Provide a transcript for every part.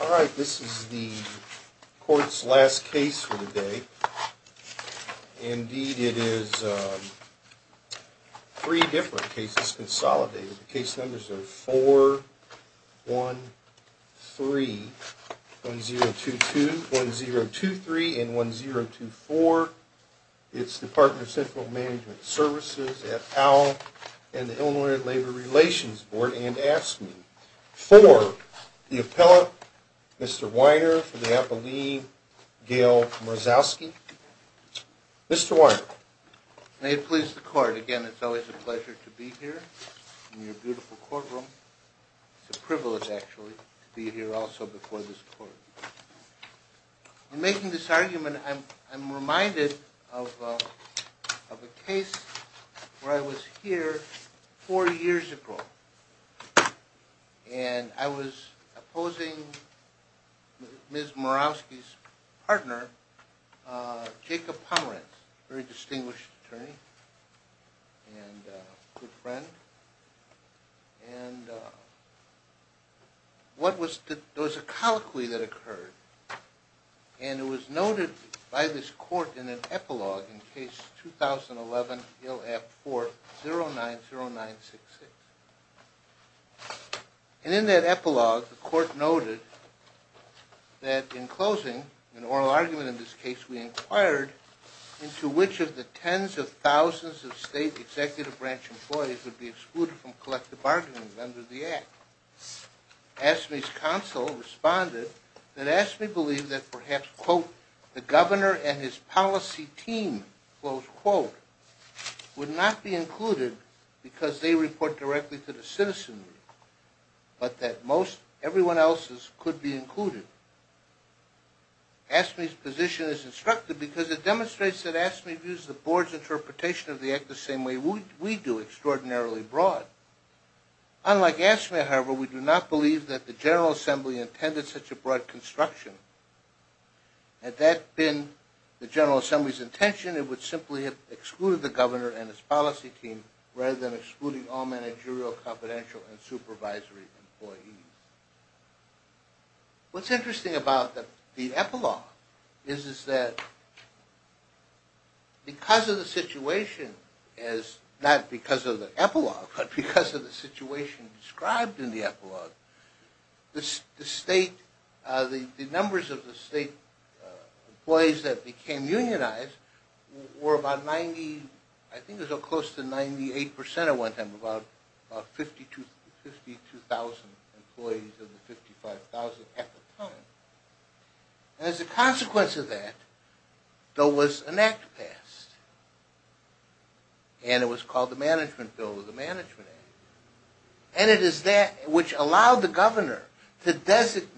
All right, this is the court's last case for the day. Indeed, it is three different cases consolidated. The case numbers are 413, 1022, 1023, and 1024. It's the Department of Central Management Services, et al., and the Illinois Labor Relations Board, and ask me for the appellate, Mr. Weiner, for the appellee, Gail Marzowski. Mr. Weiner. May it please the court. Again, it's always a pleasure to be here in your beautiful courtroom. It's a privilege, actually, to be here also before this court. In making this argument, I'm reminded of a case where I was here four years ago, and I was opposing Ms. Marzowski's partner, Jacob Pomerantz, a very distinguished attorney and good friend. And there was a colloquy that occurred, and it was noted by this court in an epilogue in Case 2011-IL-F4-090966. And in that epilogue, the court noted that in closing, an oral argument in this case, we inquired into which of the tens of thousands of state executive branch employees would be excluded from collective bargaining under the Act. ASME's counsel responded that ASME believed that perhaps, quote, the governor and his policy team, close quote, would not be included because they report directly to the citizenry, but that most everyone else's could be included. ASME's position is instructive because it demonstrates that ASME views the board's interpretation of the Act the same way we do, extraordinarily broad. Unlike ASME, however, we do not believe that the General Assembly intended such a broad construction. Had that been the General Assembly's intention, it would simply have excluded the governor and his policy team rather than excluding all managerial, confidential, and supervisory employees. What's interesting about the epilogue is that because of the situation, not because of the epilogue, but because of the situation described in the epilogue, the numbers of the state employees that became unionized were about 90 – I think it was close to 98 percent at one time, about 52,000 employees of the 55,000 at the time. As a consequence of that, though, was an Act passed, and it was called the Management Bill or the Management Act. And it is that which allowed the governor to designate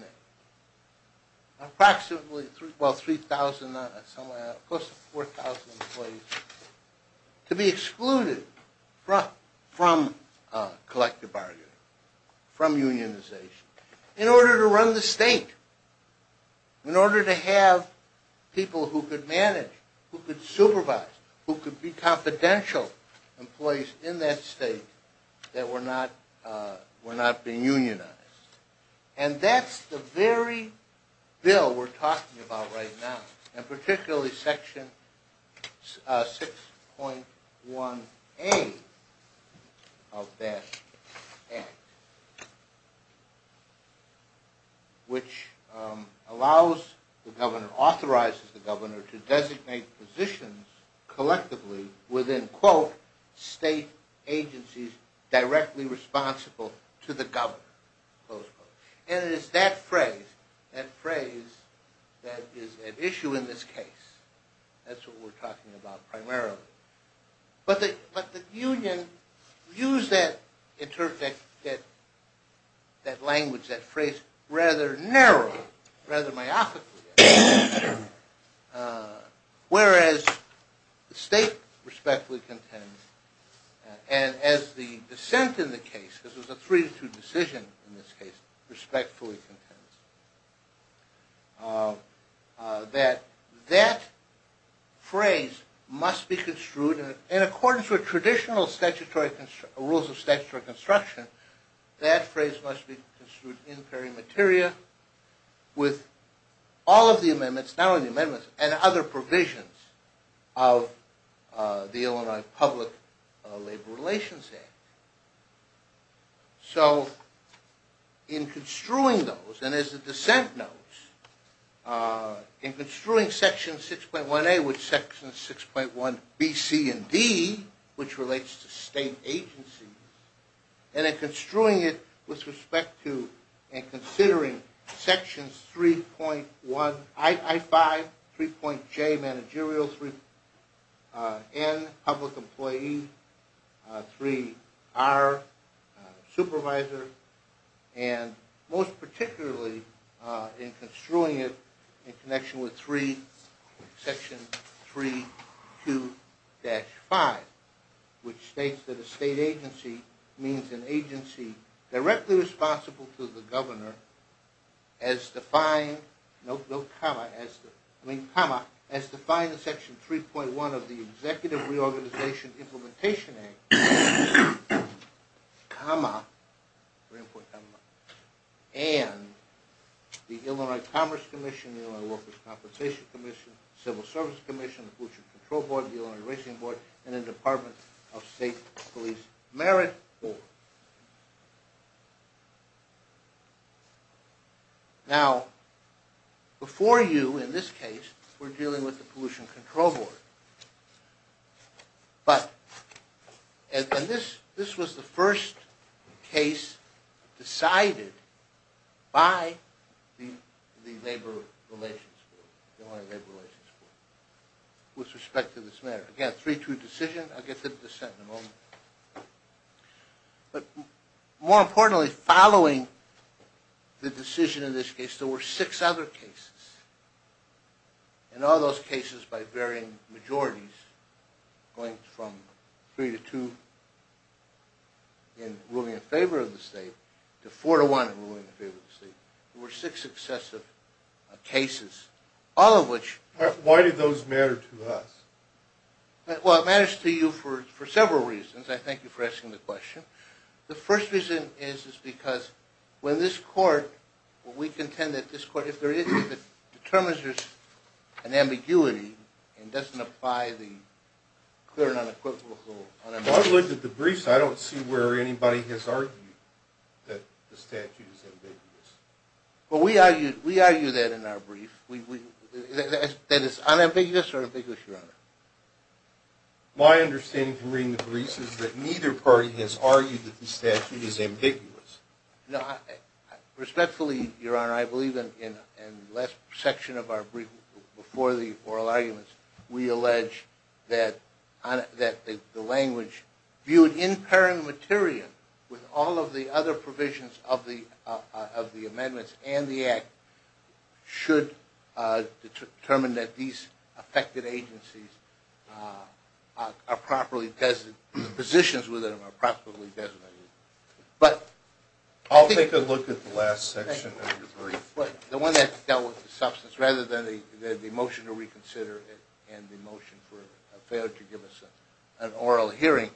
approximately, well, 3,000, somewhere close to 4,000 employees to be excluded from collective bargaining, from unionization, in order to run the state. In order to have people who could manage, who could supervise, who could be confidential employees in that state that were not being unionized. And that's the very bill we're talking about right now, and particularly Section 6.1A of that Act, which allows the governor, authorizes the governor, to designate positions collectively within, quote, state agencies directly responsible to the governor, close quote. And it is that phrase, that phrase, that is at issue in this case. That's what we're talking about primarily. But the union used that language, that phrase, rather narrowly, rather myopically, whereas the state respectfully contends, and as the dissent in the case, this was a three to two decision in this case, respectfully contends, that that phrase must be construed in accordance with traditional rules of statutory construction. That phrase must be construed in peri materia with all of the amendments, not only the amendments, but other provisions of the Illinois Public Labor Relations Act. So in construing those, and as the dissent knows, in construing Section 6.1A with Section 6.1B, C, and D, which relates to state agencies, and in construing it with respect to and considering Sections 3.1, I-5, 3.J, managerial, 3-N, public employee, 3-R, supervisor, and most particularly in construing it in connection with Section 3.2-5, which states that a state agency means an agency directly responsible to the governor, as defined in Section 3.1 of the Executive Reorganization Implementation Act, and the Illinois Commerce Commission, the Illinois Workers' Compensation Commission, the Civil Service Commission, the Pollution Control Board, the Illinois Racing Board, and the Department of State Police Merit Board. Now, before you, in this case, were dealing with the Pollution Control Board, and this was the first case decided by the Illinois Labor Relations Board with respect to this matter. Again, 3-2 decision. I'll get to the dissent in a moment. But more importantly, following the decision in this case, there were six other cases. In all those cases, by varying majorities, going from 3-2 in ruling in favor of the state to 4-1 in ruling in favor of the state, there were six successive cases, all of which- Well, it matters to you for several reasons. I thank you for asking the question. The first reason is because when this court, we contend that this court, if there is, if it determines there's an ambiguity and doesn't apply the clear and unequivocal- Well, I've looked at the briefs. I don't see where anybody has argued that the statute is ambiguous. Well, we argue that in our brief. That it's unambiguous or ambiguous, Your Honor? My understanding from reading the briefs is that neither party has argued that the statute is ambiguous. Respectfully, Your Honor, I believe in the last section of our brief, before the oral arguments, we allege that the language viewed in paren materia with all of the other provisions of the amendments and the Act should determine that these affected agencies are properly designated, positions within them are properly designated. I'll take a look at the last section of your brief. The one that dealt with the substance, rather than the motion to reconsider and the motion for a failure to give us an oral hearing.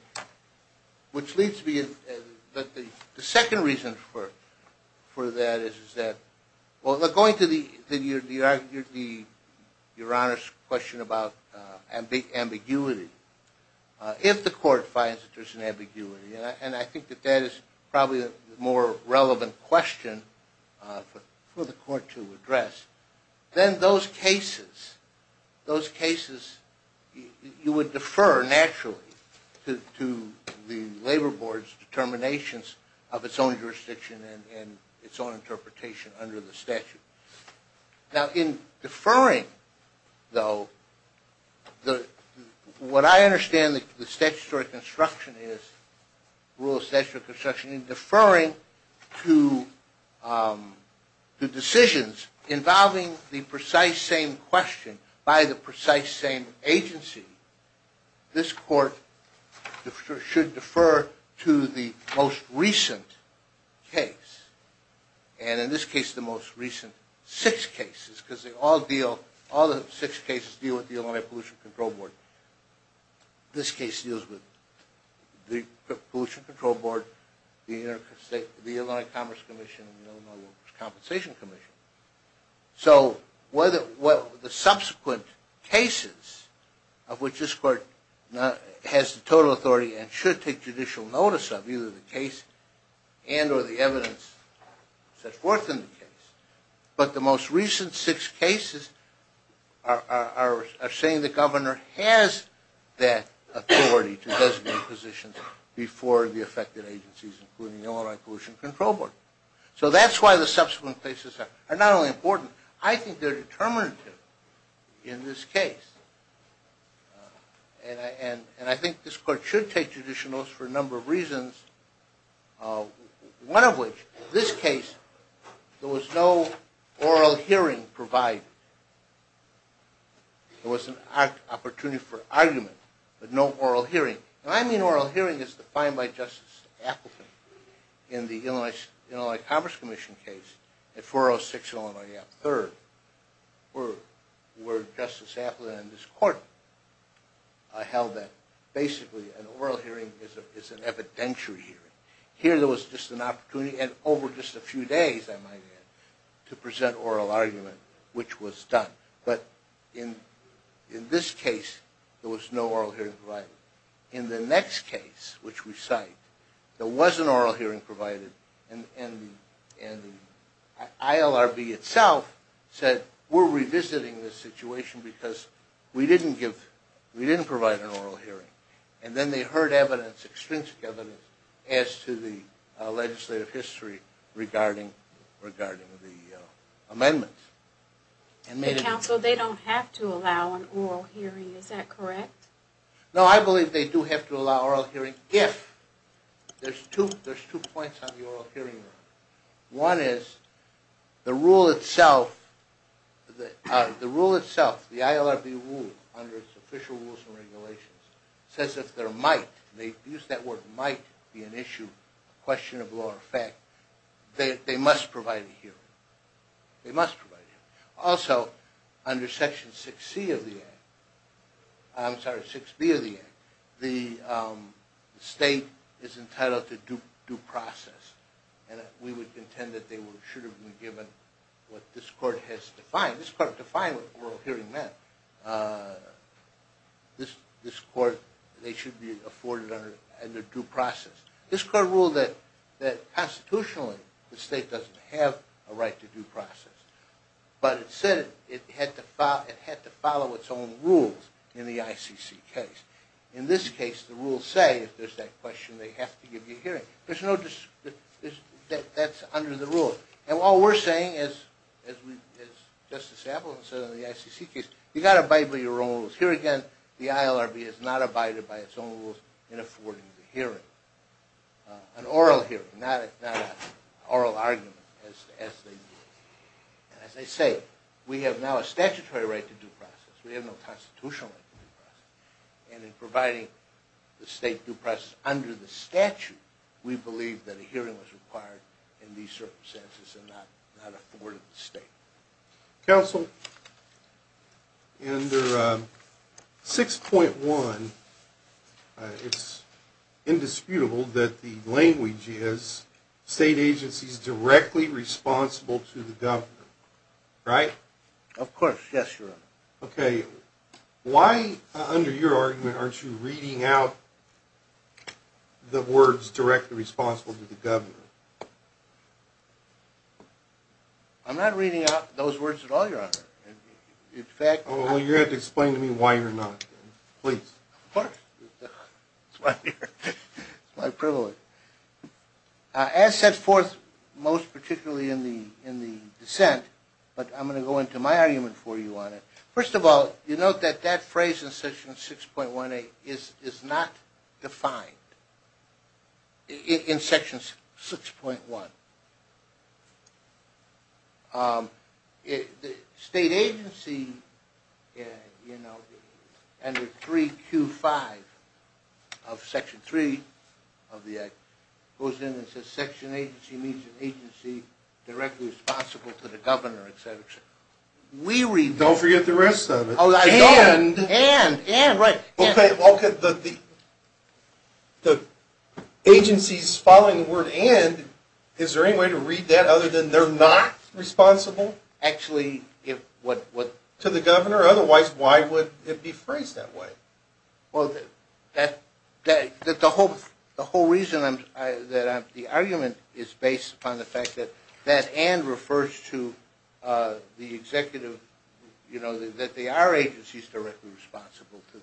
The second reason for that is that, going to Your Honor's question about ambiguity, if the court finds that there's an ambiguity, and I think that that is probably a more relevant question for the court to address, then those cases, you would defer, naturally, to the labor board's determinations of its own jurisdiction and its own interpretation under the statute. Now, in deferring, though, what I understand the rule of statutory construction is, in deferring to decisions involving the precise same question by the precise same agency, this court should defer to the most recent case. And in this case, the most recent six cases, because all the six cases deal with the Illinois Pollution Control Board. This case deals with the Pollution Control Board, the Illinois Commerce Commission, and the Illinois Workers' Compensation Commission. So the subsequent cases of which this court has the total authority and should take judicial notice of, either the case and or the evidence set forth in the case, but the most recent six cases are saying the governor has that authority to designate positions before the affected agencies, including the Illinois Pollution Control Board. So that's why the subsequent cases are not only important, I think they're determinative in this case. And I think this court should take judicial notice for a number of reasons, one of which, this case, there was no oral hearing provided. There was an opportunity for argument, but no oral hearing. And I mean oral hearing as defined by Justice Appleton in the Illinois Commerce Commission case at 406 Illinois Ave. 3rd, where Justice Appleton and this court held that basically an oral hearing is an evidentiary hearing. Here there was just an opportunity, and over just a few days, I might add, to present oral argument, which was done. But in this case, there was no oral hearing provided. In the next case, which we cite, there was an oral hearing provided, and the ILRB itself said, we're revisiting this situation because we didn't provide an oral hearing. And then they heard evidence, extrinsic evidence, as to the legislative history regarding the amendments. Counsel, they don't have to allow an oral hearing, is that correct? No, I believe they do have to allow oral hearing if, there's two points on the oral hearing. One is, the rule itself, the rule itself, the ILRB rule, under its official rules and regulations, says that there might, to use that word, might be an issue, question of law or fact, that they must provide a hearing. They must provide a hearing. Also, under Section 6C of the Act, I'm sorry, 6B of the Act, the state is entitled to due process. And we would contend that they should have been given what this court has defined. This court defined what oral hearing meant. This court, they should be afforded under due process. This court ruled that constitutionally, the state doesn't have a right to due process. But it said it had to follow its own rules in the ICC case. In this case, the rules say, if there's that question, they have to give you a hearing. There's no, that's under the rule. And while we're saying, as Justice Appleton said in the ICC case, you've got to abide by your own rules. Here again, the ILRB has not abided by its own rules in affording the hearing. An oral hearing, not an oral argument, as they do. And as I say, we have now a statutory right to due process. We have no constitutional right to due process. And in providing the state due process under the statute, we believe that a hearing was required in these circumstances and not afforded to the state. Counsel, under 6.1, it's indisputable that the language is, state agency is directly responsible to the government. Right? Of course. Yes, Your Honor. Okay. Why, under your argument, aren't you reading out the words directly responsible to the government? I'm not reading out those words at all, Your Honor. In fact, I'm not. Well, you're going to have to explain to me why you're not, then. Please. Of course. It's my privilege. As set forth most particularly in the dissent, but I'm going to go into my argument for you on it. First of all, you note that that phrase in Section 6.18 is not defined in Section 6.1. State agency, you know, under 3Q5 of Section 3 of the Act, goes in and says section agency means agency directly responsible to the governor, etc. Don't forget the rest of it. Oh, I don't. And, and, and, right. Okay, well, the agencies following the word and, is there any way to read that other than they're not responsible? Actually, if what, what. To the governor, otherwise why would it be phrased that way? Well, that, that, that the whole, the whole reason I'm, that I'm, the argument is based upon the fact that that and refers to the executive, you know, that they are agencies directly responsible to,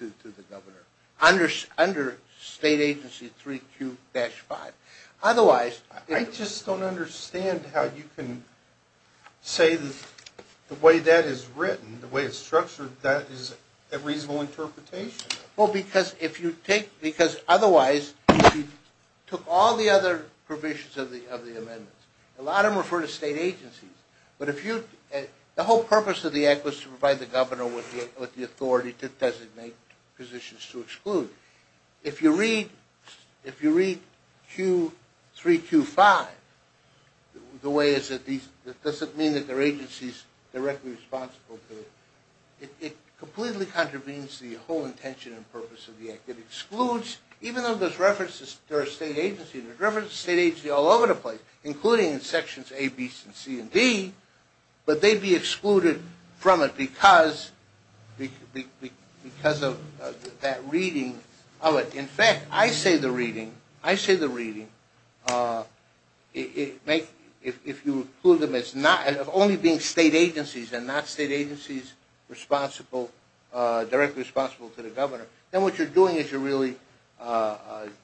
to, to the governor. Under, under state agency 3Q-5. Otherwise. I just don't understand how you can say that the way that is written, the way it's structured, that is a reasonable interpretation. Well, because if you take, because otherwise, if you took all the other provisions of the, of the amendments, a lot of them refer to state agencies. But if you, the whole purpose of the Act was to provide the governor with the authority to designate positions to exclude. If you read, if you read Q3Q-5, the way is that these, that doesn't mean that they're agencies directly responsible to it. It, it completely contravenes the whole intention and purpose of the Act. It excludes, even though there's references, there are state agency, there's references to state agency all over the place, including in sections A, B, C, and D. But they'd be excluded from it because, because of that reading of it. In fact, I say the reading, I say the reading, make, if you include them as not, only being state agencies and not state agencies responsible, directly responsible to the governor. Then what you're doing is you're really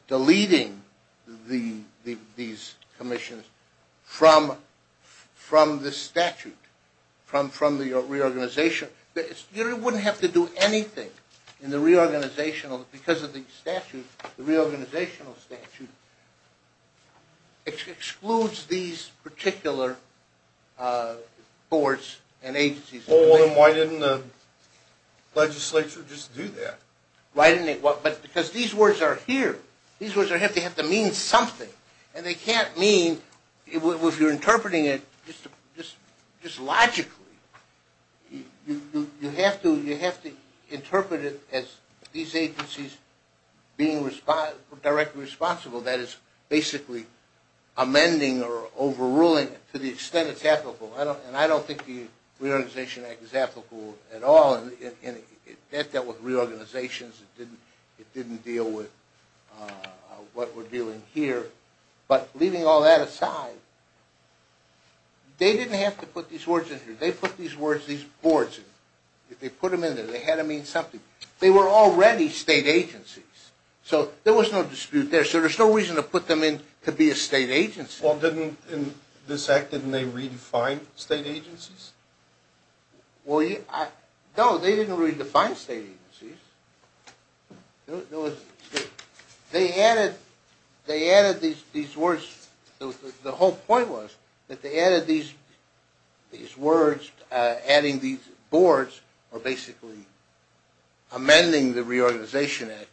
deleting the, the, these commissions from, from the statute, from, from the reorganization. You wouldn't have to do anything in the reorganizational, because of the statute, the reorganizational statute, it excludes these particular boards and agencies. Well, then why didn't the legislature just do that? Why didn't they? Because these words are here. These words are here. They have to mean something. And they can't mean, if you're interpreting it just logically, you have to, you have to interpret it as these agencies being responsible, directly responsible. That is basically amending or overruling it to the extent it's applicable. I don't, and I don't think the Reorganization Act is applicable at all. That dealt with reorganizations. It didn't, it didn't deal with what we're dealing here. But leaving all that aside, they didn't have to put these words in here. They put these words, these boards in. They put them in there. They had to mean something. They were already state agencies. So there was no dispute there. So there's no reason to put them in to be a state agency. Well, didn't, in this act, didn't they redefine state agencies? Well, no, they didn't redefine state agencies. There was, they added, they added these words. The whole point was that they added these words, adding these boards, or basically amending the Reorganization Act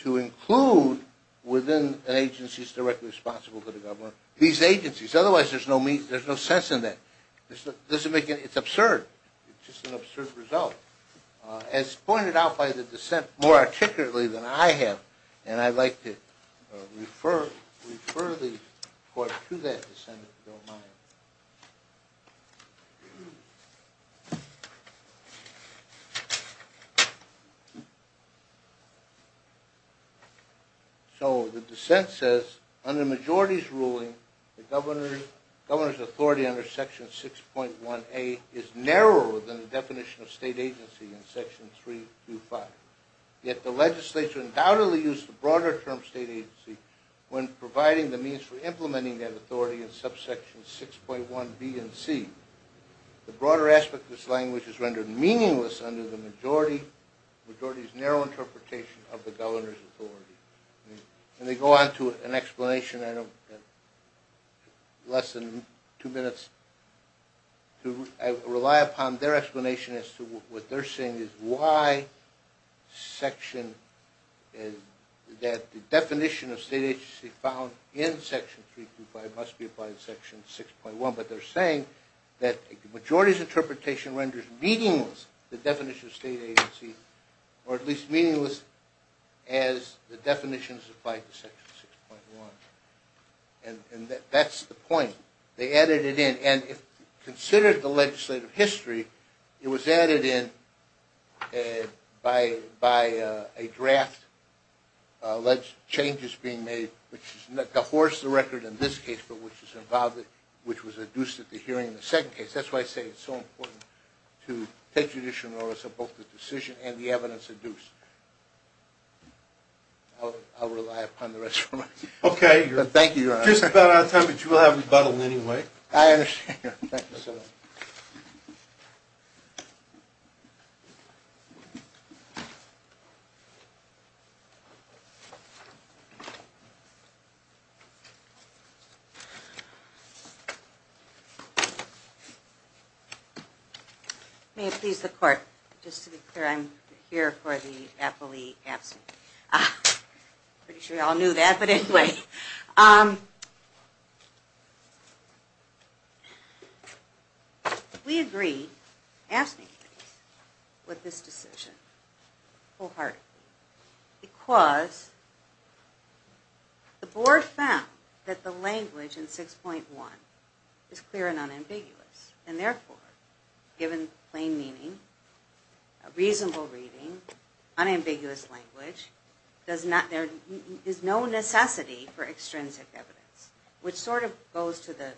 to include within an agency that's directly responsible to the government these agencies. Otherwise, there's no sense in that. It's absurd. It's just an absurd result. As pointed out by the dissent more articulately than I have, and I'd like to refer the court to that dissent, if you don't mind. So the dissent says, under majority's ruling, the governor's authority under Section 6.1A is narrower than the definition of state agency in Section 325. Yet the legislature undoubtedly used the broader term state agency when providing the means for implementing that authority in subsections 6.1B and C. The broader aspect of this language is rendered meaningless under the majority's narrow interpretation of the governor's authority. And they go on to an explanation, I don't, in less than two minutes, to rely upon their explanation as to what they're saying is why section, that the definition of state agency found in Section 325 must be applied to Section 6.1. But they're saying that the majority's interpretation renders meaningless the definition of state agency, or at least meaningless as the definitions applied to Section 6.1. And that's the point. They added it in. And if you consider the legislative history, it was added in by a draft, changes being made, which is not the horse of the record in this case, but which is involved, which was adduced at the hearing in the second case. That's why I say it's so important to take judicial notice of both the decision and the evidence adduced. I'll rely upon the rest of my time. Okay. Thank you, Your Honor. We're just about out of time, but you will have rebuttal anyway. I understand. Thank you so much. May it please the Court, just to be clear, I'm here for the appellee absent. Pretty sure you all knew that, but anyway. We agree, ask me please, with this decision. Wholeheartedly. Because the Board found that the language in 6.1 is clear and unambiguous. And therefore, given plain meaning, reasonable reading, unambiguous language, there is no necessity for extrinsic evidence, which sort of goes to the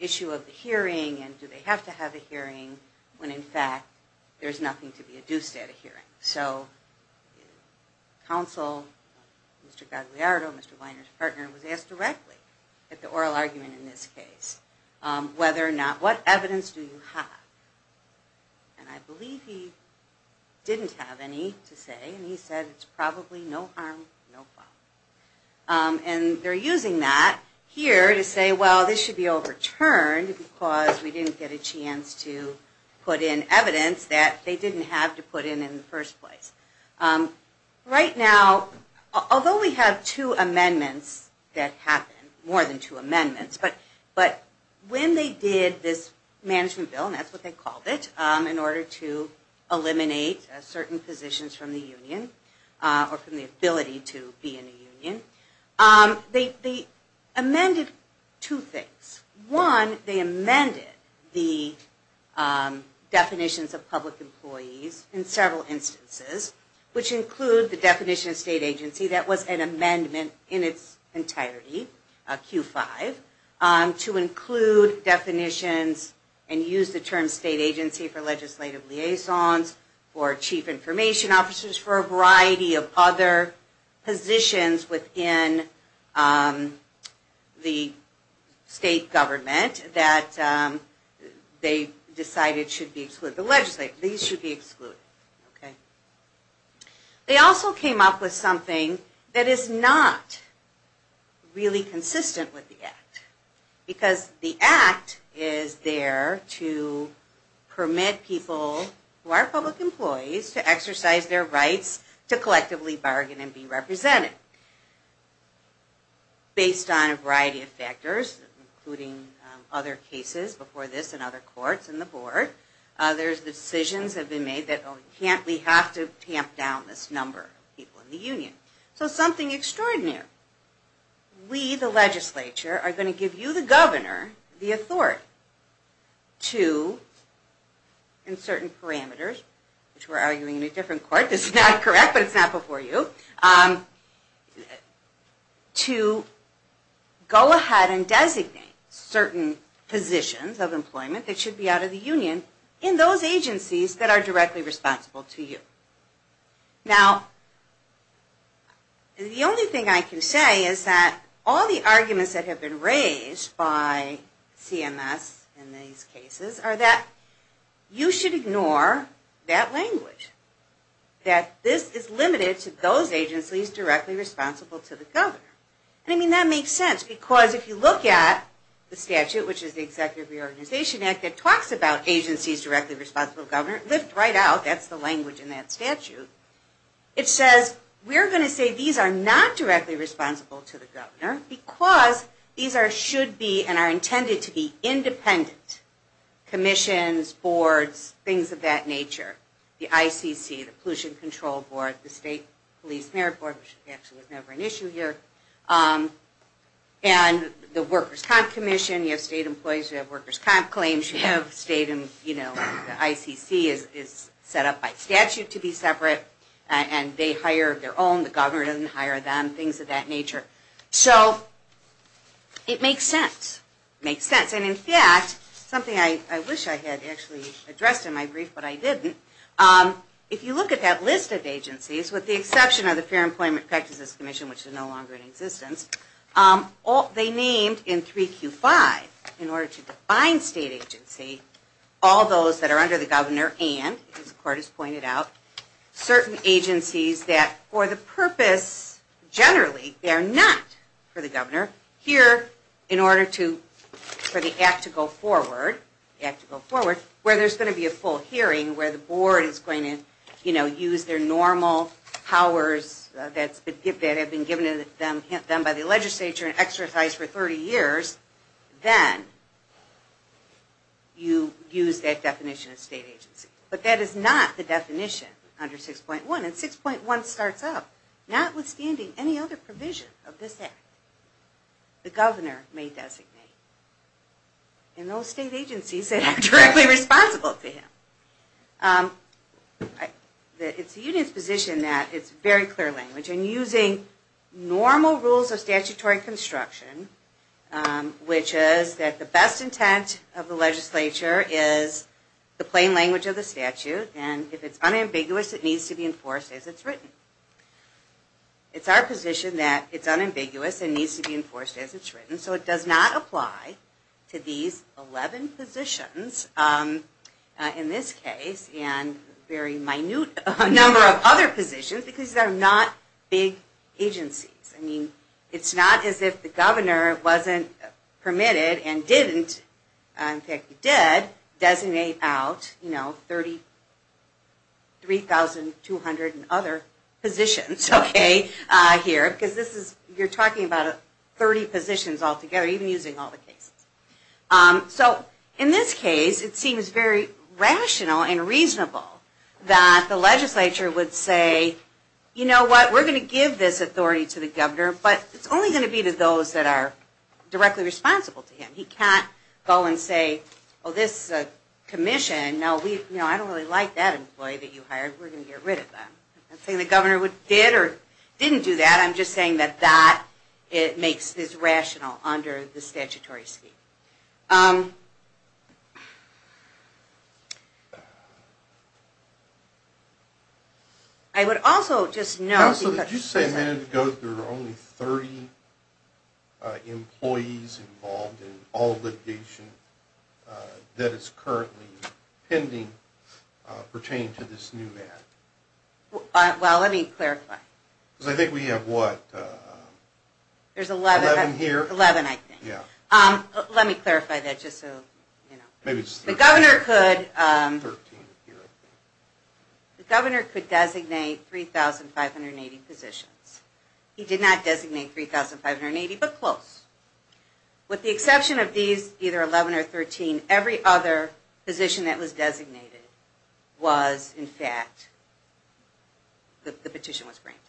issue of the hearing and do they have to have a hearing when in fact there's nothing to be adduced at a hearing. So, counsel, Mr. Gagliardo, Mr. Weiner's partner, was asked directly at the oral argument in this case, whether or not, what evidence do you have? And I believe he didn't have any to say, and he said, it's probably no harm, no foul. And they're using that here to say, well, this should be overturned because we didn't get a chance to put in evidence that they didn't have to put in in the first place. Right now, although we have two amendments that happen, more than two amendments, but when they did this management bill, and that's what they called it, in order to eliminate certain positions from the union, or from the ability to be in a union, they amended two things. One, they amended the definitions of public employees in several instances, which include the definition of state agency, that was an amendment in its entirety, Q5, to include definitions and use the term state agency for legislative liaisons, for chief information officers, for a variety of other positions within the state government that they decided should be excluded. The legislature, these should be excluded. They also came up with something that is not really consistent with the Act, because the Act is there to permit people who are public employees to exercise their rights to collectively bargain and be represented. Based on a variety of factors, including other cases before this and other courts and the board, there's decisions that have been made that we have to tamp down this number of people in the union. So something extraordinary. We, the legislature, are going to give you, the governor, the authority to, in certain parameters, which we're arguing in a different court, this is not correct, but it's not before you, to go ahead and designate certain positions of employment that should be out of the union in those agencies that are directly responsible to you. Now, the only thing I can say is that all the arguments that have been raised by CMS in these cases are that you should ignore that language. That this is limited to those agencies directly responsible to the governor. And I mean, that makes sense, because if you look at the statute, which is the Executive Reorganization Act, that talks about agencies directly responsible to the governor, lift right out, that's the language in that statute, it says we're going to say these are not directly responsible to the governor because these should be and are intended to be independent. Commissions, boards, things of that nature. The ICC, the Pollution Control Board, the State Police Merit Board, which actually was never an issue here, and the Workers' Comp Commission, you have state employees who have workers' comp claims, you have state and, you know, the ICC is set up by statute to be separate, and they hire their own, the governor doesn't hire them, things of that nature. So, it makes sense. Makes sense. And in fact, something I wish I had actually addressed in my brief, but I didn't, if you look at that list of agencies, with the exception of the Fair Employment Practices Commission, which is no longer in existence, they named in 3Q5, in order to define state agency, all those that are under the governor and, as the court has pointed out, certain agencies that, for the purpose, generally, they're not for the governor, here, in order to, for the act to go forward, where there's going to be a full hearing, where the board is going to, you know, use their normal powers that have been given to them by the legislature and exercised for 30 years, then you use that definition of state agency. But that is not the definition under 6.1, and 6.1 starts out, notwithstanding any other provision of this act, the governor may designate, and those state agencies that are directly responsible to him. It's the union's position that it's very clear language, and using normal rules of statutory construction, which is that the best intent of the legislature is the plain language of the statute, and if it's unambiguous, it needs to be enforced as it's written. It's our position that it's unambiguous and needs to be enforced as it's written, so it does not apply to these 11 positions, in this case, and a very minute number of other positions, because they're not big agencies. I mean, it's not as if the governor wasn't permitted and didn't, in fact, he did, designate out, you know, 33,200 other positions, okay, here, because this is, you're talking about 30 positions altogether, even using all the cases. So, in this case, it seems very rational and reasonable that the legislature would say, you know what, we're going to give this commission, no, I don't really like that employee that you hired, we're going to get rid of them. I'm not saying the governor did or didn't do that, I'm just saying that that makes this rational under the statutory scheme. I would also just note... So did you say a minute ago that there were only 30 employees involved in all litigation that is currently pending pertaining to this new act? Well, let me clarify. Because I think we have, what, 11 here? 11, I think. Let me clarify that just so, you know. The governor could designate 3,580 positions. He did not designate 3,580, but close. With the exception of these, either 11 or 13, every other position that was designated was, in fact, the petition was granted.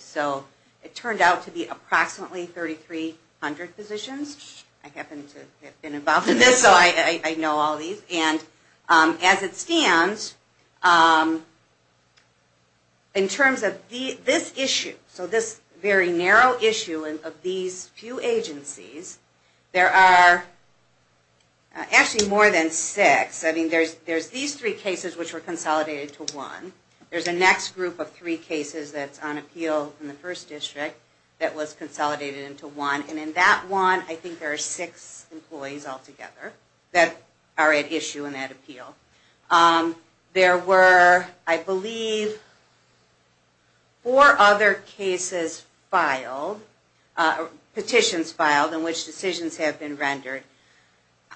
So it turned out to be approximately 3,300 positions. I happen to have been involved in this, so I know all these. And as it stands, in terms of this issue, so this very narrow issue of these few agencies, there are actually more than six. I mean, there's these three cases which were consolidated to one. There's a next group of three cases that's on appeal in the first district that was altogether that are at issue and at appeal. There were, I believe, four other cases filed, petitions filed in which decisions have been rendered.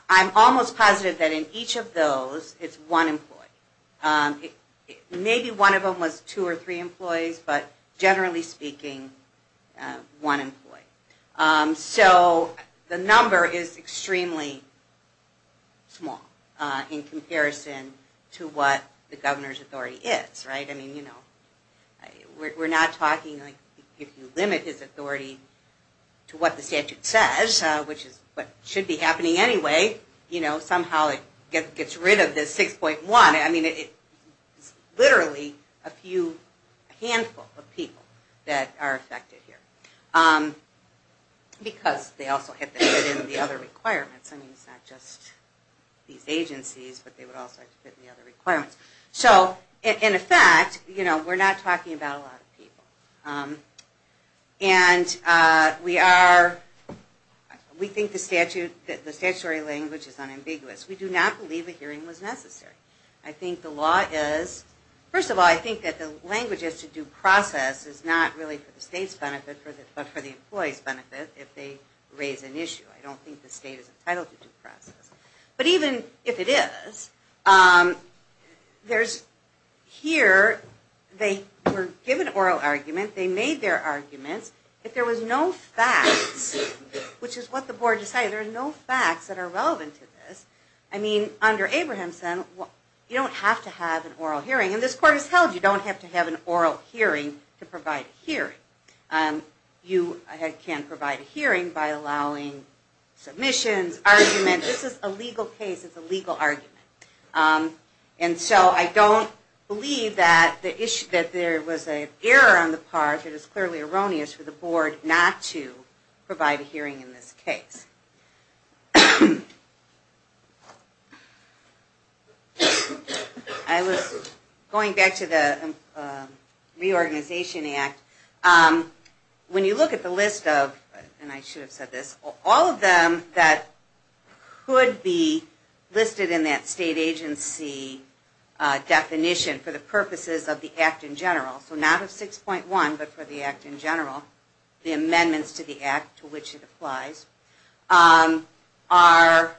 I'm almost positive that in each of those, it's one employee. Maybe one of them was two or three employees, but generally speaking, one employee. So the number is extremely small in comparison to what the governor's authority is, right? I mean, you know, we're not talking like if you limit his authority to what the statute says, which is what should be happening anyway, you know, somehow it gets rid of this 6.1. I mean, it's literally a handful of people that are because they also had to fit in the other requirements. I mean, it's not just these agencies, but they would also have to fit in the other requirements. So in effect, you know, we're not talking about a lot of people. And we are, we think the statute, the statutory language is unambiguous. We do not believe a hearing was necessary. I think the law is, first of all, I think that the language as to due process is not really for the employee's benefit if they raise an issue. I don't think the state is entitled to due process. But even if it is, there's here, they were given oral argument. They made their arguments. If there was no facts, which is what the board decided, there are no facts that are relevant to this. I mean, under I can't provide a hearing by allowing submissions, arguments. This is a legal case. It's a legal argument. And so I don't believe that there was an error on the part for the board not to provide a hearing in this case. I was going back to the Reorganization Act. When you look at the list of, and I should have said this, all of them that could be listed in that state agency definition for the purposes of the Act in general, so not of 6.1, but for the Act in general, the amendments to the Act to which it applies, are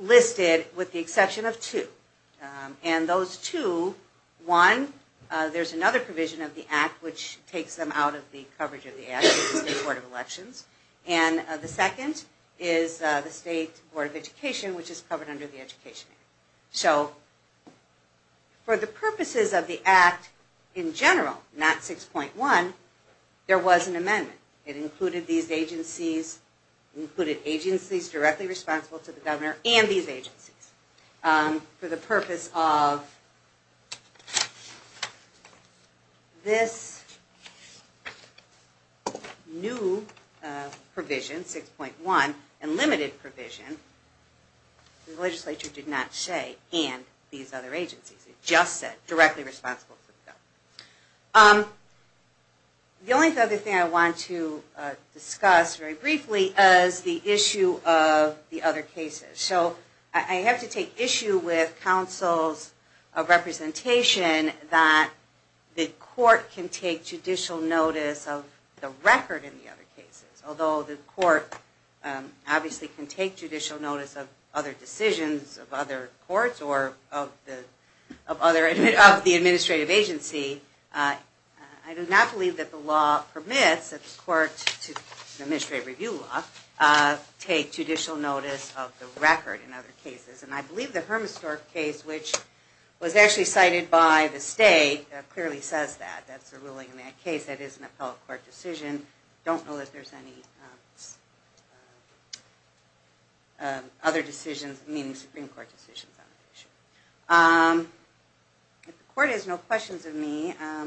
listed with the exception of two. And those two, one, there's another provision of the Act which takes them out of the coverage of the Act, the State Board of Elections. And the second is the State Board of Education, which is covered under the Education Act. So for the purposes of the new provision, 6.1, and limited provision, the legislature did not say, and these other agencies. It just said directly responsible for the bill. The only other thing I want to discuss very briefly is the issue of the other cases. So I have to take issue with counsel's representation that the court can take the administrative agency. I do not believe that the law permits that the court, the administrative review law, take judicial notice of the record in other cases. And I believe the If the court has no questions of me, I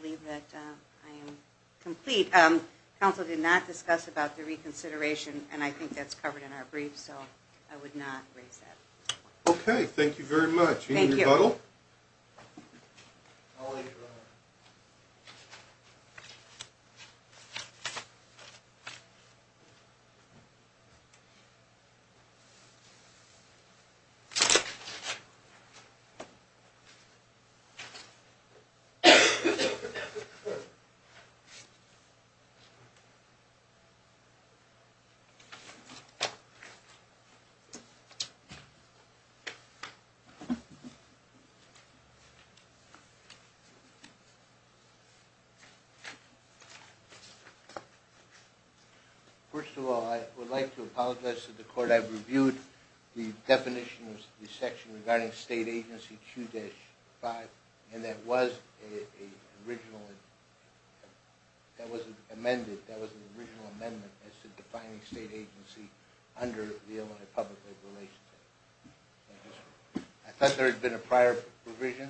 believe that I am complete. Counsel did not discuss about the reconsideration, and I think that's covered in our briefs, so I would not First of all, I would like to apologize to the court. I've reviewed the definition of the section regarding state agency charges. I thought there had been a prior provision,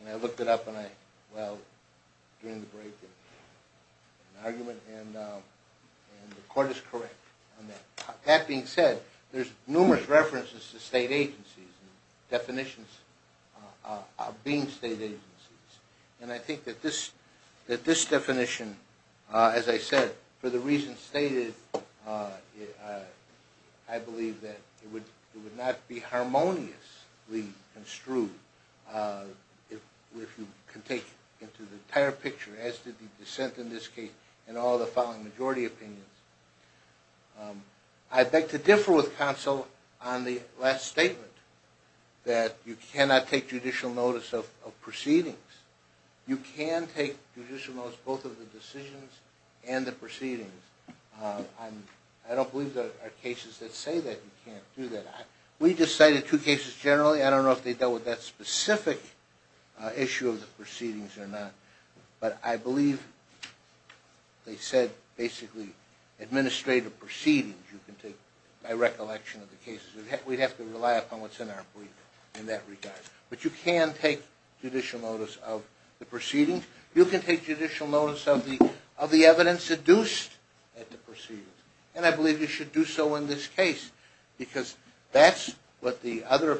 and I looked it up during the break, and the court is correct on that. That being said, there's numerous references to state agencies and definitions of being state agencies. And I think that this definition, as I said, for the reasons stated, I believe that it would not be harmoniously construed, if you can take it to the entire picture, as did the dissent in this case, and all the following majority opinions. I beg to differ with counsel on the last statement, that you cannot take judicial notice of proceedings. You can take judicial notice of both of the decisions and the proceedings. I don't believe there are cases that say that you can't do that. We just cited two cases generally. I don't know if they dealt with that specific issue of the proceedings or not. But I believe they said, basically, administrative proceedings you can take by recollection of the cases. We'd have to rely upon what's in our brief in that regard. But you can take judicial notice of the proceedings. You can take judicial notice of the evidence seduced at the proceedings. And I believe you should do so in this case, because that's what the other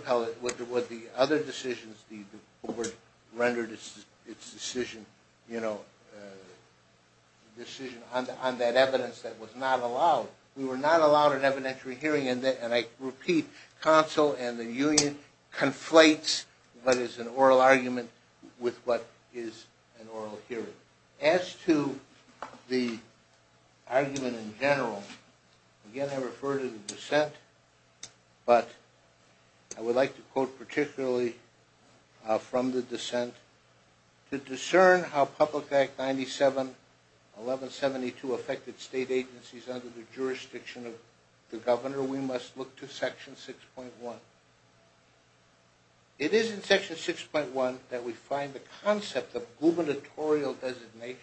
decisions, the court rendered its decision on that evidence that was not allowed. We were not allowed an evidentiary hearing, and I repeat, counsel and the union conflates what is an oral argument with what is an oral hearing. As to the argument in general, again I refer to the dissent, but I would like to quote particularly from the dissent. To discern how Public Act 97-1172 affected state agencies under the jurisdiction of the governor, we must look to Section 6.1. It is in Section 6.1 that we find the concept of gubernatorial designation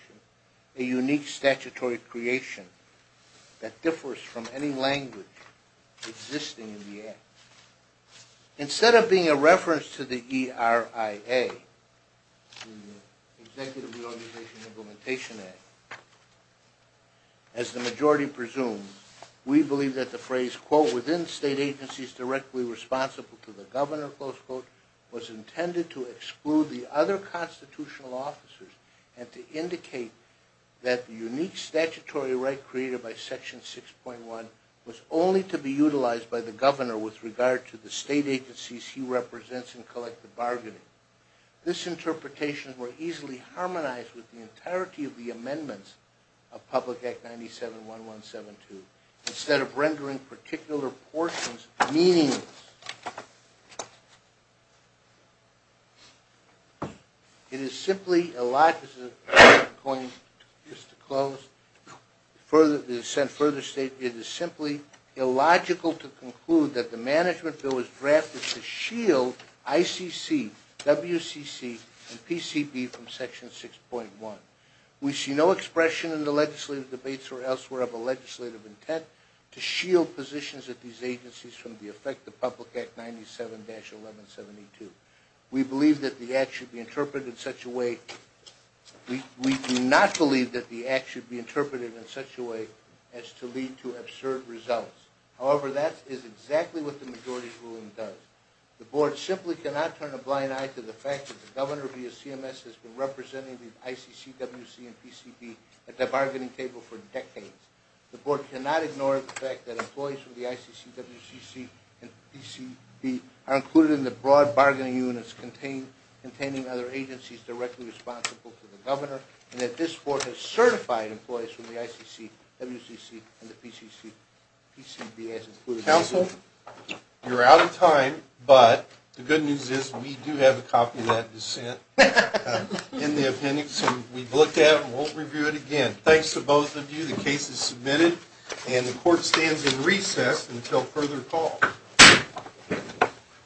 a unique statutory creation that differs from any language existing in the act. Instead of being a reference to the ERIA, the Executive Reorganization and Implementation Act, as the majority presumes, we believe that the phrase, quote, within state agencies directly responsible to the governor, close quote, was intended to exclude the other constitutional officers and to indicate that the unique statutory right created by Section 6.1 was only to be utilized by the governor with regard to state agencies. This interpretation were easily harmonized with the entirety of the amendments of Public Act 97-1172. Instead of rendering particular portions meaningless, it is simply illogical to conclude that the management of state agencies, and I quote, quote, to shield ICC, WCC, and PCP from Section 6.1. We see no expression in the legislative debates or elsewhere of a legislative intent to shield positions at these agencies from the effect of Public Act 97-1172. We do not believe that the act should be interpreted in such a way as to lead to absurd results. However, that is exactly what the majority ruling does. The board simply cannot turn a blind eye to the fact that the governor via CMS has been representing the ICC, WCC, and PCP at the bargaining table for decades. The board cannot ignore the fact that employees from the ICC, WCC, and PCP are included in the broad bargaining units containing other agencies directly responsible to the governor, and that this board has certified employees from the ICC, WCC, and PCP as included. Counsel, you're out of time, but the good news is we do have a copy of that dissent in the appendix, and we've looked at it and won't review it again. Thanks to both of you. The case is submitted, and the court stands in recess until further call.